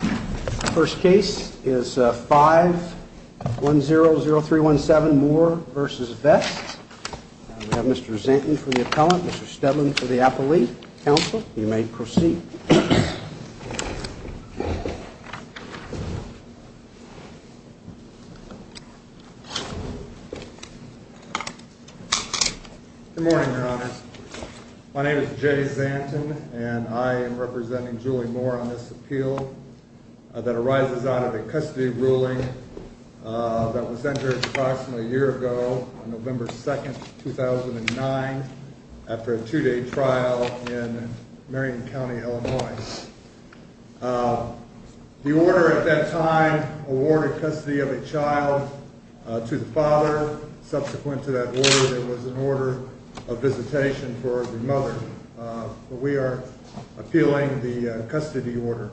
The first case is 5100317 Moore v. Vest. We have Mr. Zanten for the appellant, Mr. Steadman for the appellee. Counsel, you may proceed. Good morning, Your Honor. My name is Jay Zanten, and I am representing Julie Moore on this appeal that arises out of a custody ruling that was entered approximately a year ago, on November 2, 2009, after a two-day trial in Marion County, Illinois. The order at that time awarded custody of a child to the father. Subsequent to that order, there was an order of visitation for the mother. We are appealing the custody order.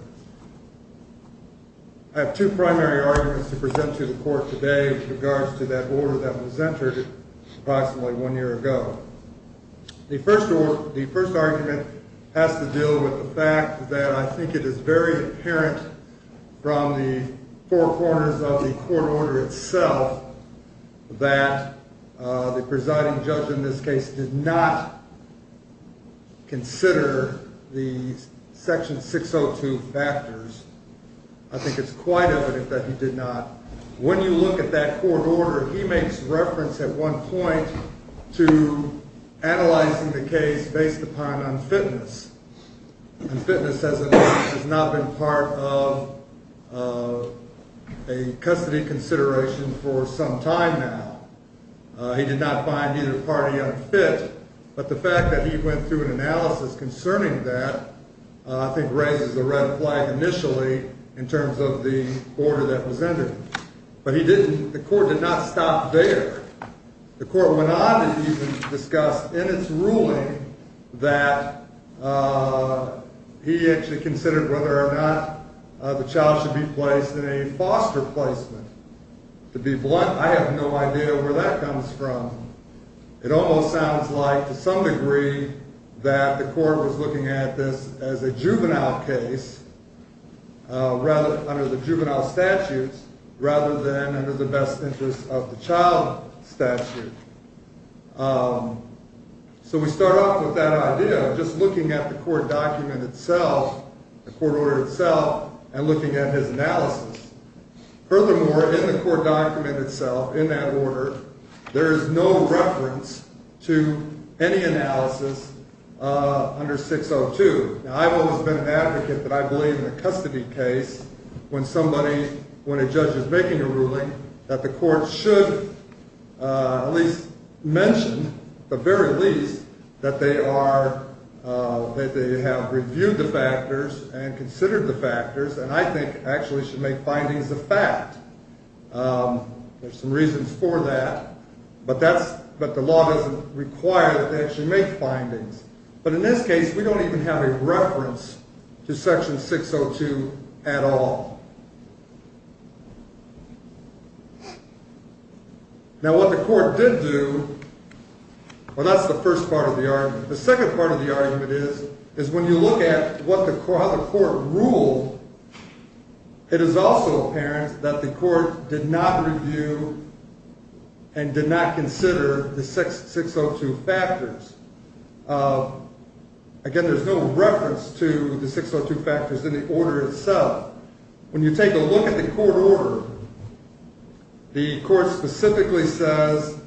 I have two primary arguments to present to the court today with regards to that order that was entered approximately one year ago. The first argument has to deal with the fact that I think it is very apparent from the four corners of the court order itself that the presiding judge in this case did not consider the Section 602 factors. I think it's quite evident that he did not. When you look at that court order, he makes reference at one point to analyzing the case based upon unfitness. Unfitness has not been part of a custody consideration for some time now. He did not find either party unfit. But the fact that he went through an analysis concerning that, I think, raises a red flag initially in terms of the order that was entered. But the court did not stop there. The court went on to even discuss in its ruling that he actually considered whether or not the child should be placed in a foster placement. To be blunt, I have no idea where that comes from. It almost sounds like, to some degree, that the court was looking at this as a juvenile case under the juvenile statutes rather than under the best interest of the child statute. So we start off with that idea of just looking at the court document itself, the court order itself, and looking at his analysis. Furthermore, in the court document itself, in that order, there is no reference to any analysis under 602. Now, I've always been an advocate that I believe in a custody case when somebody, when a judge is making a ruling, that the court should at least mention, at the very least, that they have reviewed the factors and considered the factors and I think actually should make findings of fact. There's some reasons for that, but the law doesn't require that they actually make findings. But in this case, we don't even have a reference to Section 602 at all. Now, what the court did do, well, that's the first part of the argument. The second part of the argument is when you look at how the court ruled, it is also apparent that the court did not review and did not consider the 602 factors. Again, there's no reference to the 602 factors in the order itself. When you take a look at the court order, the court specifically says,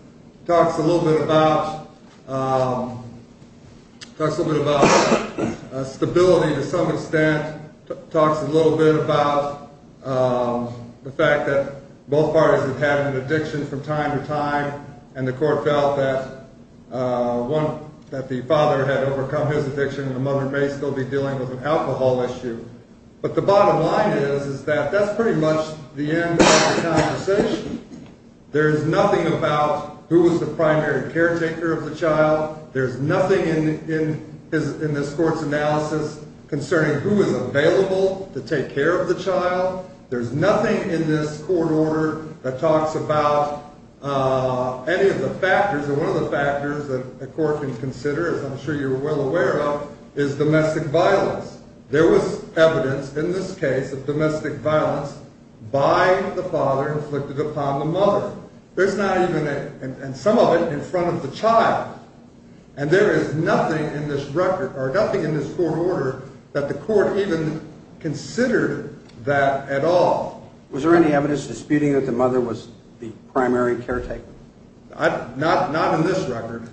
talks a little bit about stability to some extent, talks a little bit about the fact that both parties have had an addiction from time to time and the court felt that the father had overcome his addiction and the mother may still be dealing with an alcohol issue. But the bottom line is that that's pretty much the end of the conversation. There's nothing about who was the primary caretaker of the child. There's nothing in this court's analysis concerning who is available to take care of the child. There's nothing in this court order that talks about any of the factors. And one of the factors that a court can consider, as I'm sure you're well aware of, is domestic violence. There was evidence in this case of domestic violence by the father inflicted upon the mother. There's not even, and some of it in front of the child. And there is nothing in this record or nothing in this court order that the court even considered that at all. Was there any evidence disputing that the mother was the primary caretaker? Not in this record.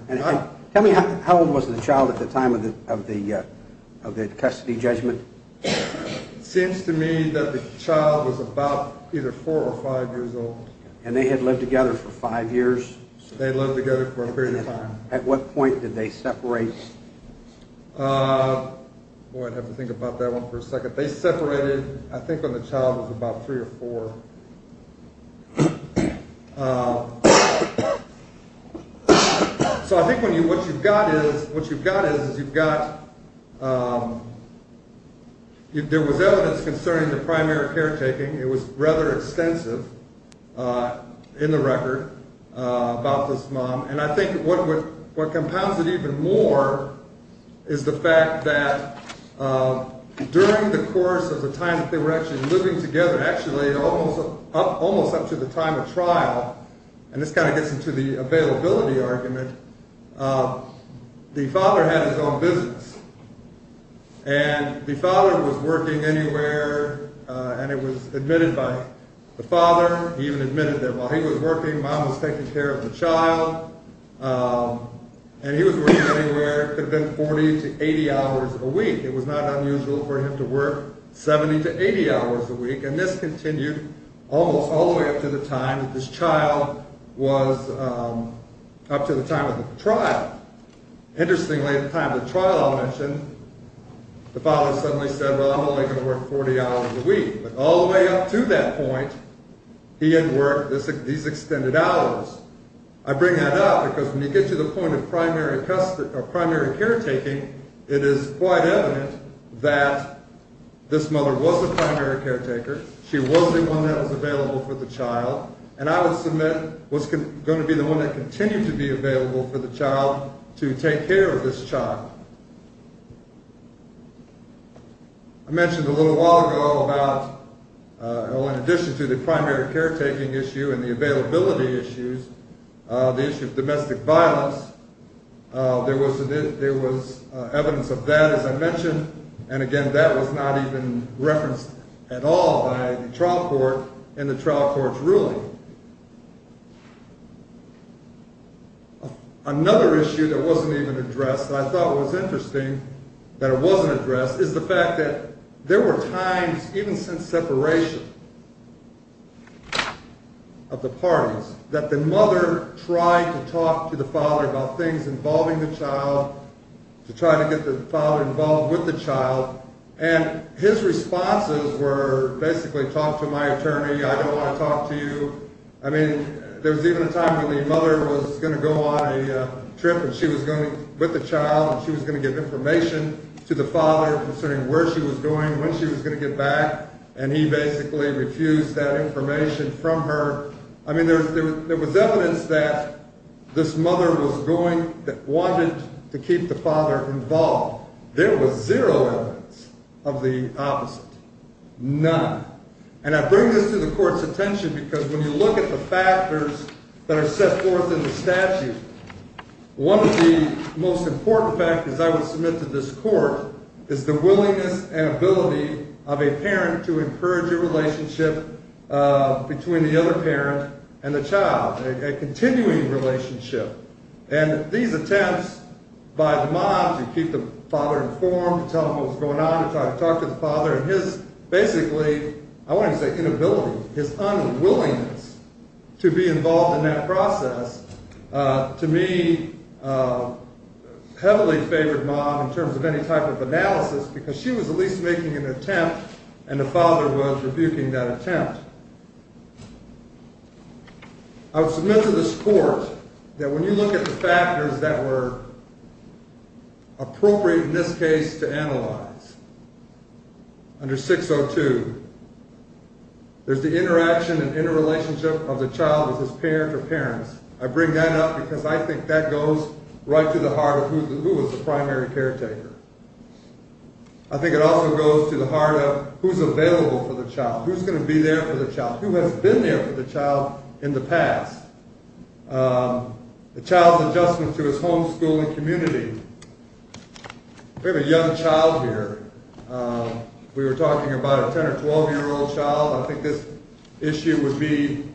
Tell me, how old was the child at the time of the custody judgment? It seems to me that the child was about either four or five years old. And they had lived together for five years? They had lived together for a period of time. At what point did they separate? Boy, I'd have to think about that one for a second. They separated, I think, when the child was about three or four. So I think what you've got is you've got, there was evidence concerning the primary caretaking. It was rather extensive in the record about this mom. And I think what compounds it even more is the fact that during the course of the time that they were actually living together, actually almost up to the time of trial, and this kind of gets into the availability argument, the father had his own business. And the father was working anywhere, and it was admitted by the father. He even admitted that while he was working, mom was taking care of the child. And he was working anywhere between 40 to 80 hours a week. It was not unusual for him to work 70 to 80 hours a week. And this continued almost all the way up to the time that this child was up to the time of the trial. Interestingly, at the time of the trial I'll mention, the father suddenly said, well, I'm only going to work 40 hours a week. But all the way up to that point, he had worked these extended hours. I bring that up because when you get to the point of primary caretaking, it is quite evident that this mother was a primary caretaker. She was the one that was available for the child. And I would submit was going to be the one that continued to be available for the child to take care of this child. I mentioned a little while ago about, well, in addition to the primary caretaking issue and the availability issues, the issue of domestic violence, there was evidence of that, as I mentioned. And again, that was not even referenced at all by the trial court in the trial court's ruling. Another issue that wasn't even addressed that I thought was interesting that it wasn't addressed is the fact that there were times, even since separation of the parties, that the mother tried to talk to the father about things involving the child, to try to get the father involved with the child. And his responses were basically, talk to my attorney, I don't want to talk to you. I mean, there was even a time when the mother was going to go on a trip with the child and she was going to give information to the father concerning where she was going, when she was going to get back, and he basically refused that information from her. I mean, there was evidence that this mother was going, wanted to keep the father involved. There was zero evidence of the opposite. None. And I bring this to the court's attention because when you look at the factors that are set forth in the statute, one of the most important factors I would submit to this court is the willingness and ability of a parent to encourage a relationship between the other parent and the child, a continuing relationship. And these attempts by the mom to keep the father informed, to tell him what was going on, to try to talk to the father, and his, basically, I wouldn't say inability, his unwillingness to be involved in that process, to me, heavily favored mom in terms of any type of analysis because she was at least making an attempt and the father was rebuking that attempt. I would submit to this court that when you look at the factors that were appropriate in this case to analyze, under 602, there's the interaction and interrelationship of the child with his parent or parents. I bring that up because I think that goes right to the heart of who was the primary caretaker. I think it also goes to the heart of who's available for the child, who's going to be there for the child, who has been there for the child in the past, the child's adjustment to his homeschooling community. We have a young child here. We were talking about a 10 or 12-year-old child. I think this issue would be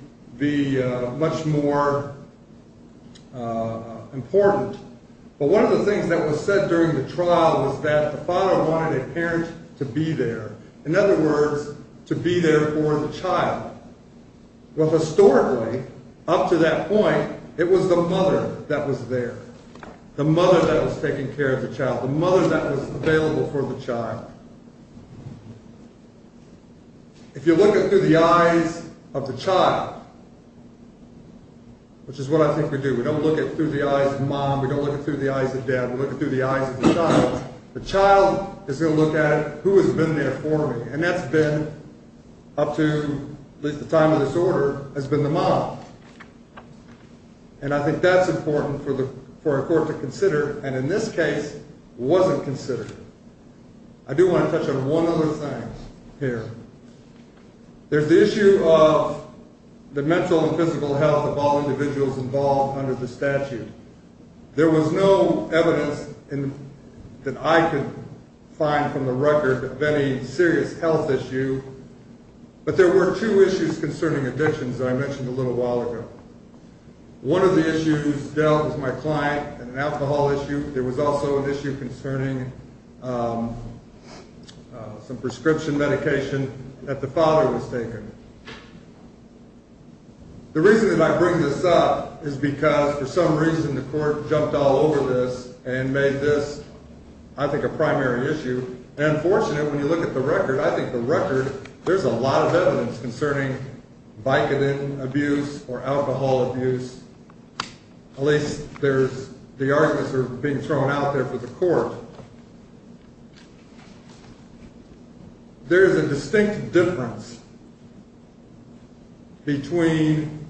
much more important. But one of the things that was said during the trial was that the father wanted a parent to be there, in other words, to be there for the child. Well, historically, up to that point, it was the mother that was there, the mother that was taking care of the child, the mother that was available for the child. If you look through the eyes of the child, which is what I think we do, we don't look through the eyes of mom, we don't look through the eyes of dad, we look through the eyes of the child, the child is going to look at who has been there for me, and that's been, up to at least the time of this order, has been the mom. And I think that's important for a court to consider, and in this case, wasn't considered. I do want to touch on one other thing here. There's the issue of the mental and physical health of all individuals involved under the statute. There was no evidence that I could find from the record of any serious health issue, but there were two issues concerning addictions that I mentioned a little while ago. One of the issues dealt with my client, an alcohol issue. There was also an issue concerning some prescription medication that the father was taking. The reason that I bring this up is because, for some reason, the court jumped all over this and made this, I think, a primary issue. And, fortunately, when you look at the record, I think the record, there's a lot of evidence concerning Vicodin abuse or alcohol abuse. At least the arguments are being thrown out there for the court. There is a distinct difference between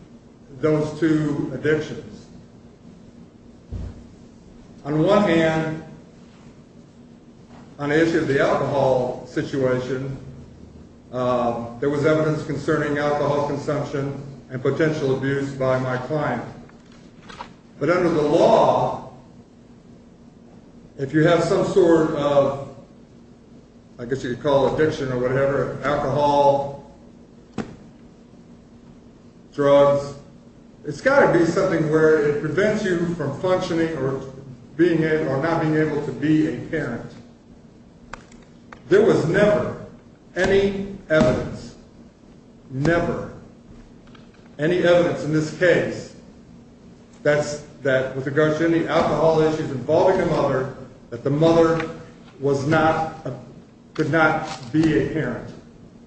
those two addictions. On one hand, on the issue of the alcohol situation, there was evidence concerning alcohol consumption and potential abuse by my client. But under the law, if you have some sort of, I guess you could call it addiction or whatever, alcohol, drugs, it's got to be something where it prevents you from functioning or not being able to be a parent. There was never any evidence, never, any evidence in this case that with regard to any alcohol issues involving a mother, that the mother was not, could not be a parent,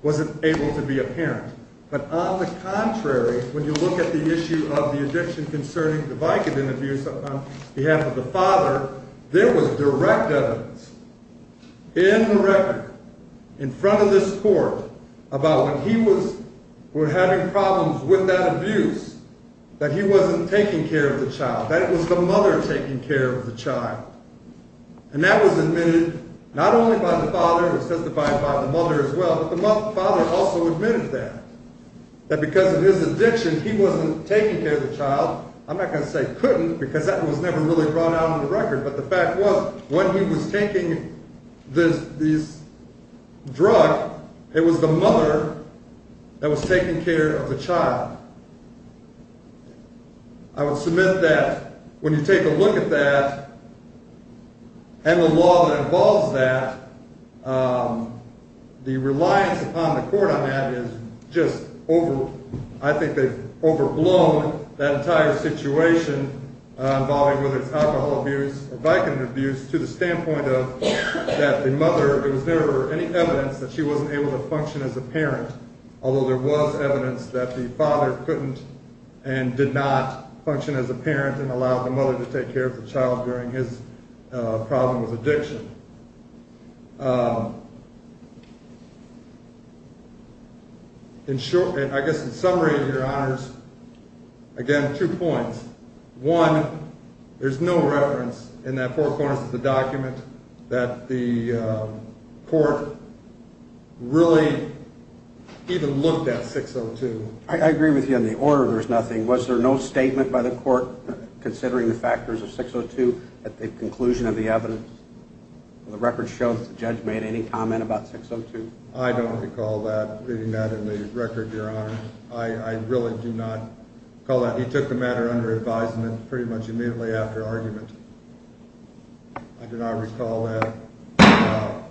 wasn't able to be a parent. But on the contrary, when you look at the issue of the addiction concerning the Vicodin abuse on behalf of the father, there was direct evidence in the record, in front of this court, about when he was having problems with that abuse, that he wasn't taking care of the child, that it was the mother taking care of the child. And that was admitted not only by the father, it was testified by the mother as well, but the father also admitted that, that because of his addiction, he wasn't taking care of the child. I'm not going to say couldn't, because that was never really brought out in the record, but the fact was, when he was taking this drug, it was the mother that was taking care of the child. I would submit that when you take a look at that, and the law that involves that, the reliance upon the court on that is just over, I think they've overblown that entire situation, involving whether it's alcohol abuse or Vicodin abuse, to the standpoint of that the mother, there was never any evidence that she wasn't able to function as a parent, although there was evidence that the father couldn't and did not function as a parent and allowed the mother to take care of the child during his problem with addiction. In short, I guess in summary, your honors, again, two points. One, there's no reference in that four corners of the document that the court really even looked at 602. I agree with you on the order, there's nothing. Was there no statement by the court considering the factors of 602 at the conclusion of the evidence? The record shows the judge made any comment about 602. I don't recall that, reading that in the record, your honors. I really do not recall that. He took the matter under advisement pretty much immediately after argument. I do not recall that at all.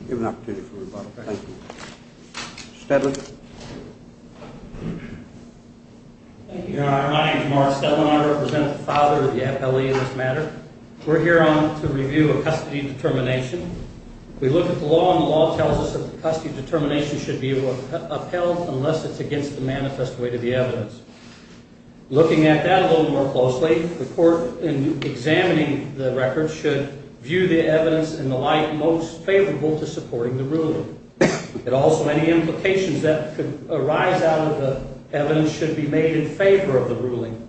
I'll give an opportunity for rebuttal. Thank you. Mr. Steadley. Thank you, your honor. My name is Mark Steadley, and I represent the father of the appellee in this matter. We're here to review a custody determination. We look at the law, and the law tells us that the custody determination should be upheld unless it's against the manifest way to the evidence. Looking at that a little more closely, the court, in examining the record, should view the evidence and the like most favorable to supporting the ruling. And also any implications that could arise out of the evidence should be made in favor of the ruling.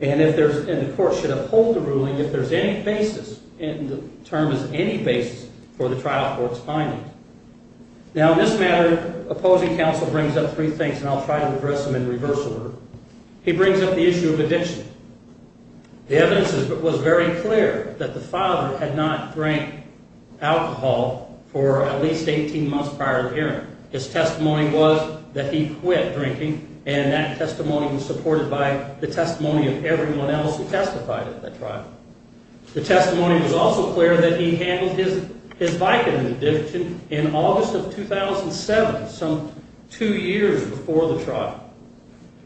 And the court should uphold the ruling if there's any basis, and the term is any basis for the trial court's findings. Now, in this matter, opposing counsel brings up three things, and I'll try to address them in reverse order. He brings up the issue of addiction. The evidence was very clear that the father had not drank alcohol for at least 18 months prior to the hearing. His testimony was that he quit drinking, and that testimony was supported by the testimony of everyone else who testified at the trial. The testimony was also clear that he handled his Vicodin addiction in August of 2007, some two years before the trial.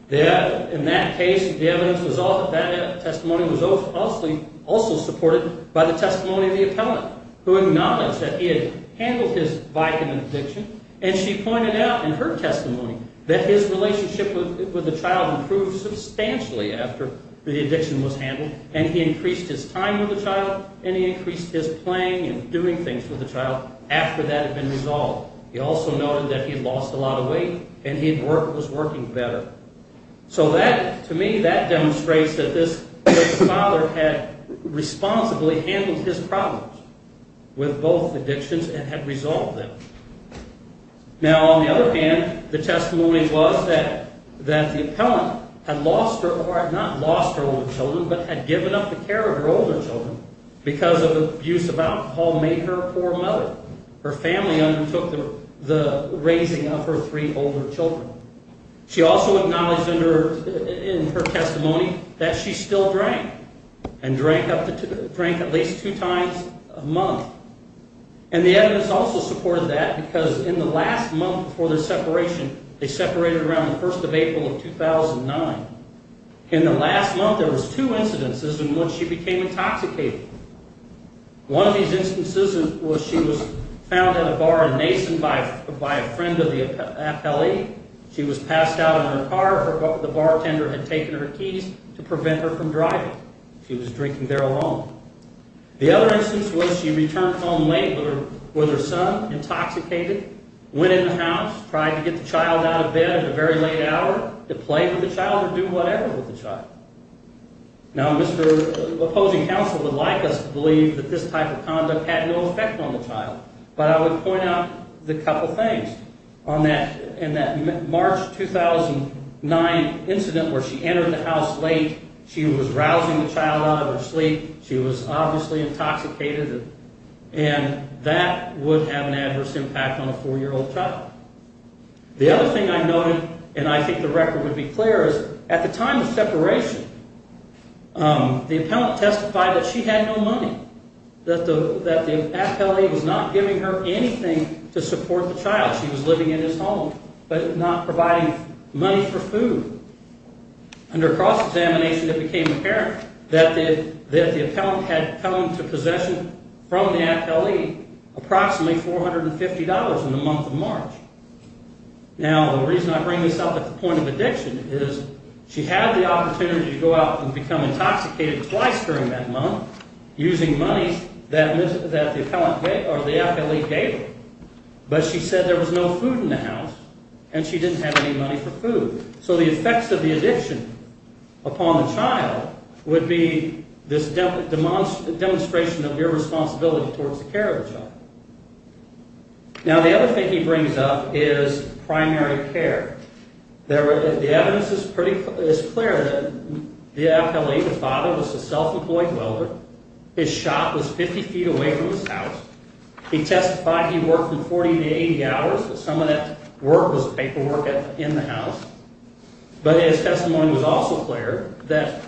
In that case, that testimony was also supported by the testimony of the appellant, who acknowledged that he had handled his Vicodin addiction, and she pointed out in her testimony that his relationship with the child improved substantially after the addiction was handled, and he increased his time with the child, and he increased his playing and doing things with the child after that had been resolved. He also noted that he had lost a lot of weight, and he was working better. So that, to me, that demonstrates that the father had responsibly handled his problems with both addictions and had resolved them. Now, on the other hand, the testimony was that the appellant had lost her, or had not lost her older children, but had given up the care of her older children because of abuse of alcohol made her a poor mother. Her family undertook the raising of her three older children. She also acknowledged in her testimony that she still drank and drank at least two times a month, and the evidence also supported that because in the last month before the separation, they separated around the 1st of April of 2009. In the last month, there was two incidences in which she became intoxicated. One of these instances was she was found at a bar in Mason by a friend of the appellee. She was passed out in her car. The bartender had taken her keys to prevent her from driving. She was drinking there alone. The other instance was she returned home late with her son, intoxicated, went in the house, tried to get the child out of bed at a very late hour to play with the child or do whatever with the child. Now, Mr. Opposing Counsel would like us to believe that this type of conduct had no effect on the child, but I would point out a couple of things. In that March 2009 incident where she entered the house late, she was rousing the child out of her sleep. She was obviously intoxicated, and that would have an adverse impact on a 4-year-old child. The other thing I noted, and I think the record would be clear, is at the time of separation, the appellant testified that she had no money, that the appellee was not giving her anything to support the child. She was living in his home, but not providing money for food. Under cross-examination, it became apparent that the appellant had come into possession from the appellee approximately $450 in the month of March. Now, the reason I bring this up at the point of addiction is she had the opportunity to go out and become intoxicated twice during that month using money that the appellee gave her, but she said there was no food in the house, and she didn't have any money for food. So the effects of the addiction upon the child would be this demonstration of irresponsibility towards the care of the child. Now, the other thing he brings up is primary care. The evidence is clear that the appellee, the father, was a self-employed welder. His shop was 50 feet away from his house. He testified he worked 40 to 80 hours, but some of that work was paperwork in the house. But his testimony was also clear that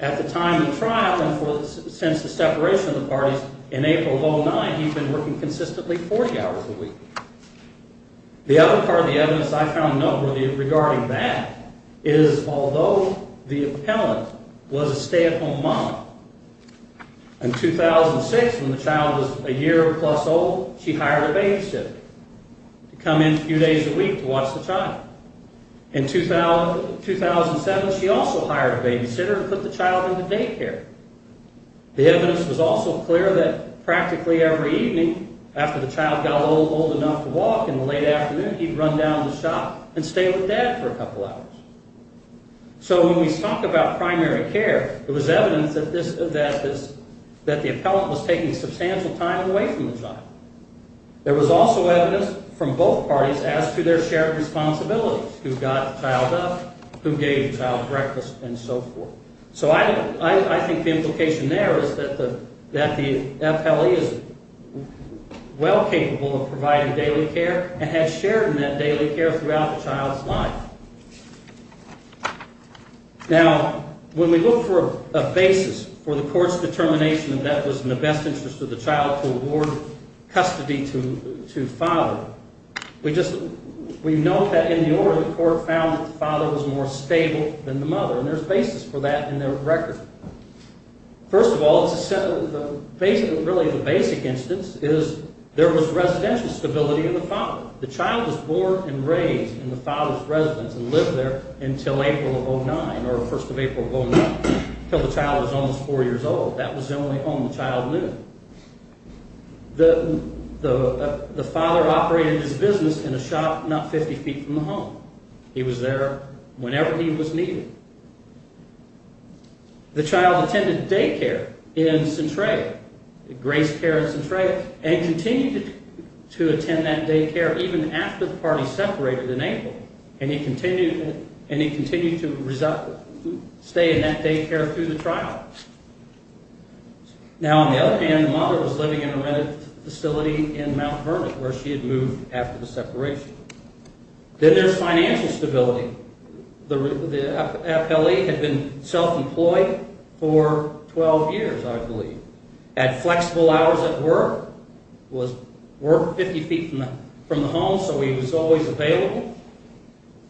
at the time of the trial and since the separation of the parties, in April of 2009, he'd been working consistently 40 hours a week. The other part of the evidence I found noteworthy regarding that is although the appellant was a stay-at-home mom, in 2006, when the child was a year-plus old, she hired a babysitter to come in a few days a week to watch the child. In 2007, she also hired a babysitter to put the child into daycare. The evidence was also clear that practically every evening after the child got a little old enough to walk, in the late afternoon, he'd run down to the shop and stay with dad for a couple hours. So when we talk about primary care, there was evidence that the appellant was taking substantial time away from the child. There was also evidence from both parties as to their shared responsibilities, who got the child up, who gave the child breakfast, and so forth. So I think the implication there is that the appellee is well capable of providing daily care and had shared in that daily care throughout the child's life. Now, when we look for a basis for the court's determination that that was in the best interest of the child to award custody to father, we note that in the order the court found that the father was more stable than the mother, and there's basis for that in their record. First of all, really the basic instance is there was residential stability in the father. The child was born and raised in the father's residence and lived there until April of 2009, or the first of April of 2009, until the child was almost four years old. That was the only home the child knew. The father operated his business in a shop not 50 feet from the home. He was there whenever he was needed. The child attended daycare in Centralia, Grace Care in Centralia, and continued to attend that daycare even after the party separated in April, and he continued to stay in that daycare through the trial. Now, on the other hand, the mother was living in a rented facility in Mount Vernon where she had moved after the separation. Then there's financial stability. The appellee had been self-employed for 12 years, I believe, had flexible hours at work, worked 50 feet from the home so he was always available.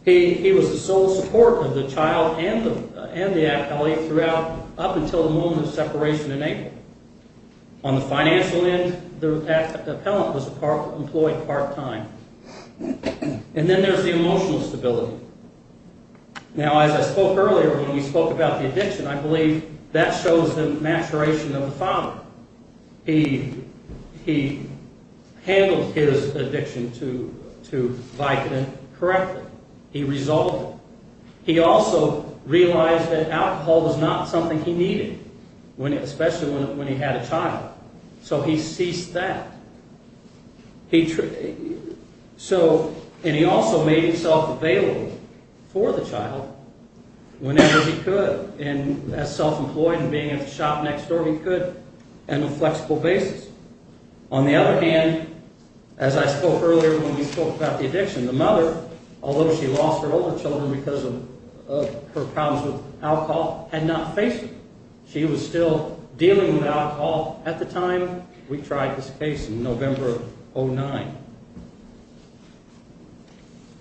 He was the sole support of the child and the appellee throughout up until the moment of separation in April. On the financial end, the appellant was employed part-time. And then there's the emotional stability. Now, as I spoke earlier when we spoke about the addiction, I believe that shows the maturation of the father. He handled his addiction to Vicodin correctly. He resolved it. He also realized that alcohol was not something he needed, especially when he had a child, so he ceased that. And he also made himself available for the child whenever he could. And as self-employed and being at the shop next door, he could on a flexible basis. On the other hand, as I spoke earlier when we spoke about the addiction, the mother, although she lost her older children because of her problems with alcohol, had not faced it. She was still dealing with alcohol at the time we tried this case in November of 2009.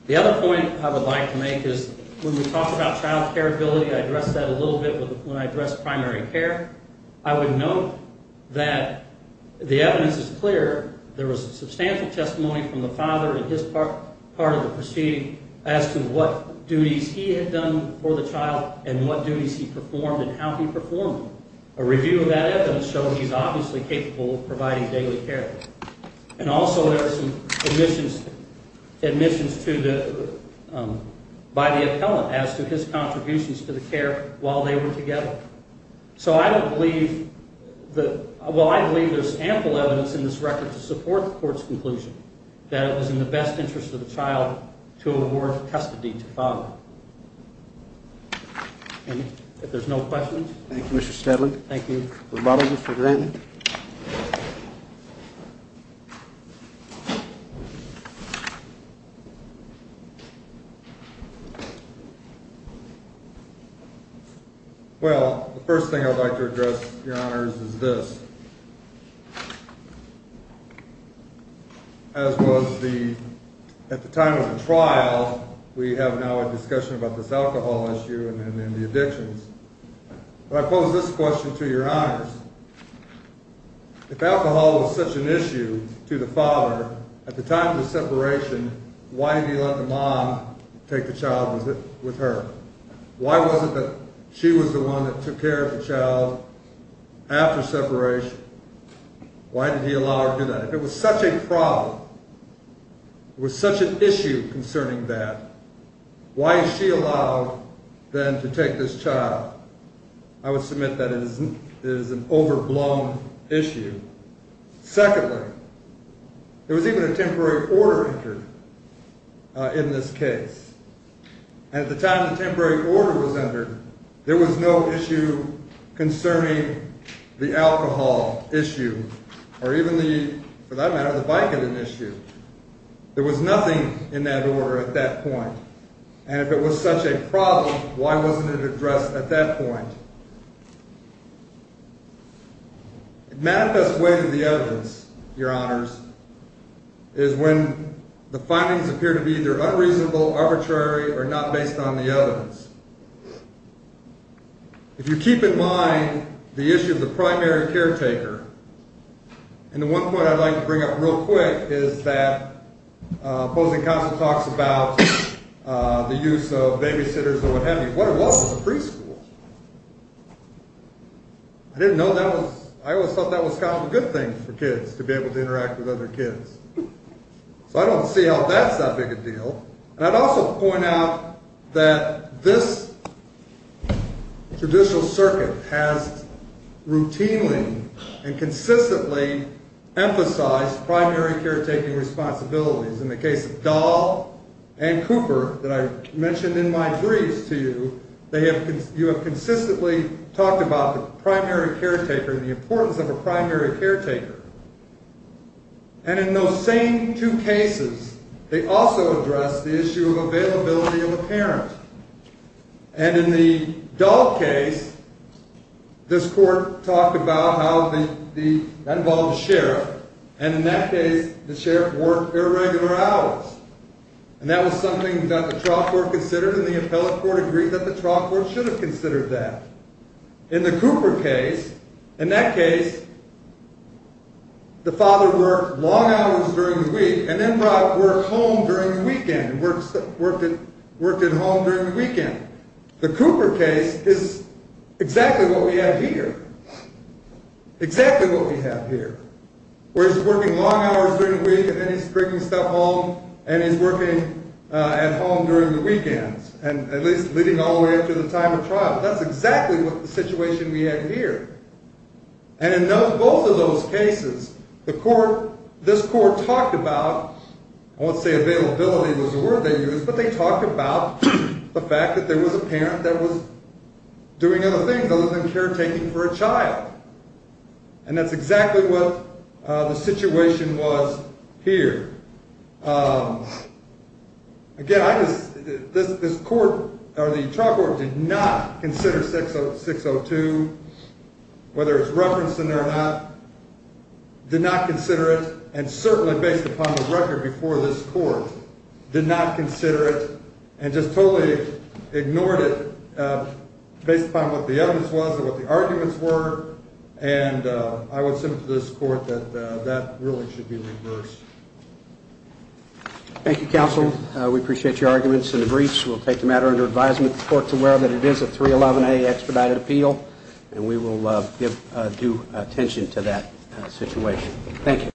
The other point I would like to make is when we talk about child careability, I addressed that a little bit when I addressed primary care. I would note that the evidence is clear. There was substantial testimony from the father in his part of the proceeding as to what duties he had done for the child and what duties he performed and how he performed them. A review of that evidence showed he's obviously capable of providing daily care. And also there are some admissions by the appellant as to his contributions to the care while they were together. So I don't believe that – well, I believe there's ample evidence in this record to support the court's conclusion that it was in the best interest of the child to award custody to the father. If there's no questions. Thank you, Mr. Steadley. Thank you. We'll model this for granted. Thank you. Well, the first thing I'd like to address, Your Honors, is this. As was the – at the time of the trial, we have now a discussion about this alcohol issue and then the addictions. But I pose this question to Your Honors. If alcohol was such an issue to the father at the time of the separation, why did he let the mom take the child with her? Why was it that she was the one that took care of the child after separation? Why did he allow her to do that? If it was such a problem, if it was such an issue concerning that, why is she allowed then to take this child? I would submit that it is an overblown issue. Secondly, there was even a temporary order entered in this case. And at the time the temporary order was entered, there was no issue concerning the alcohol issue or even the – for that matter, the Vicodin issue. There was nothing in that order at that point. And if it was such a problem, why wasn't it addressed at that point? It manifests way to the evidence, Your Honors, is when the findings appear to be either unreasonable, arbitrary, or not based on the evidence. If you keep in mind the issue of the primary caretaker, and the one point I'd like to bring up real quick is that opposing counsel talks about the use of babysitters and what have you. What it was was a preschool. I didn't know that was – I always thought that was kind of a good thing for kids, to be able to interact with other kids. So I don't see how that's that big a deal. And I'd also point out that this judicial circuit has routinely and consistently emphasized primary caretaking responsibilities. In the case of Dahl and Cooper that I mentioned in my briefs to you, they have – you have consistently talked about the primary caretaker and the importance of a primary caretaker. And in those same two cases, they also address the issue of availability of a parent. And in the Dahl case, this Court talked about how the – that involved a sheriff, and in that case, the sheriff worked irregular hours. And that was something that the trial court considered, and the appellate court agreed that the trial court should have considered that. In the Cooper case, in that case, the father worked long hours during the week and then brought work home during the weekend, worked at home during the weekend. The Cooper case is exactly what we have here, exactly what we have here, where he's working long hours during the week and then he's bringing stuff home and he's working at home during the weekends, and at least leading all the way up to the time of trial. That's exactly what the situation we have here. And in both of those cases, the court – this court talked about – I won't say availability was a word they used, but they talked about the fact that there was a parent that was doing other things other than caretaking for a child. And that's exactly what the situation was here. Again, I just – this court – or the trial court did not consider 602, whether it's referenced in there or not, did not consider it, and certainly based upon the record before this court, did not consider it and just totally ignored it based upon what the evidence was and what the arguments were, and I would submit to this court that that ruling should be reversed. Thank you, counsel. We appreciate your arguments and the briefs. We'll take the matter under advisement. The court's aware that it is a 311A extradited appeal, and we will give due attention to that situation. Thank you.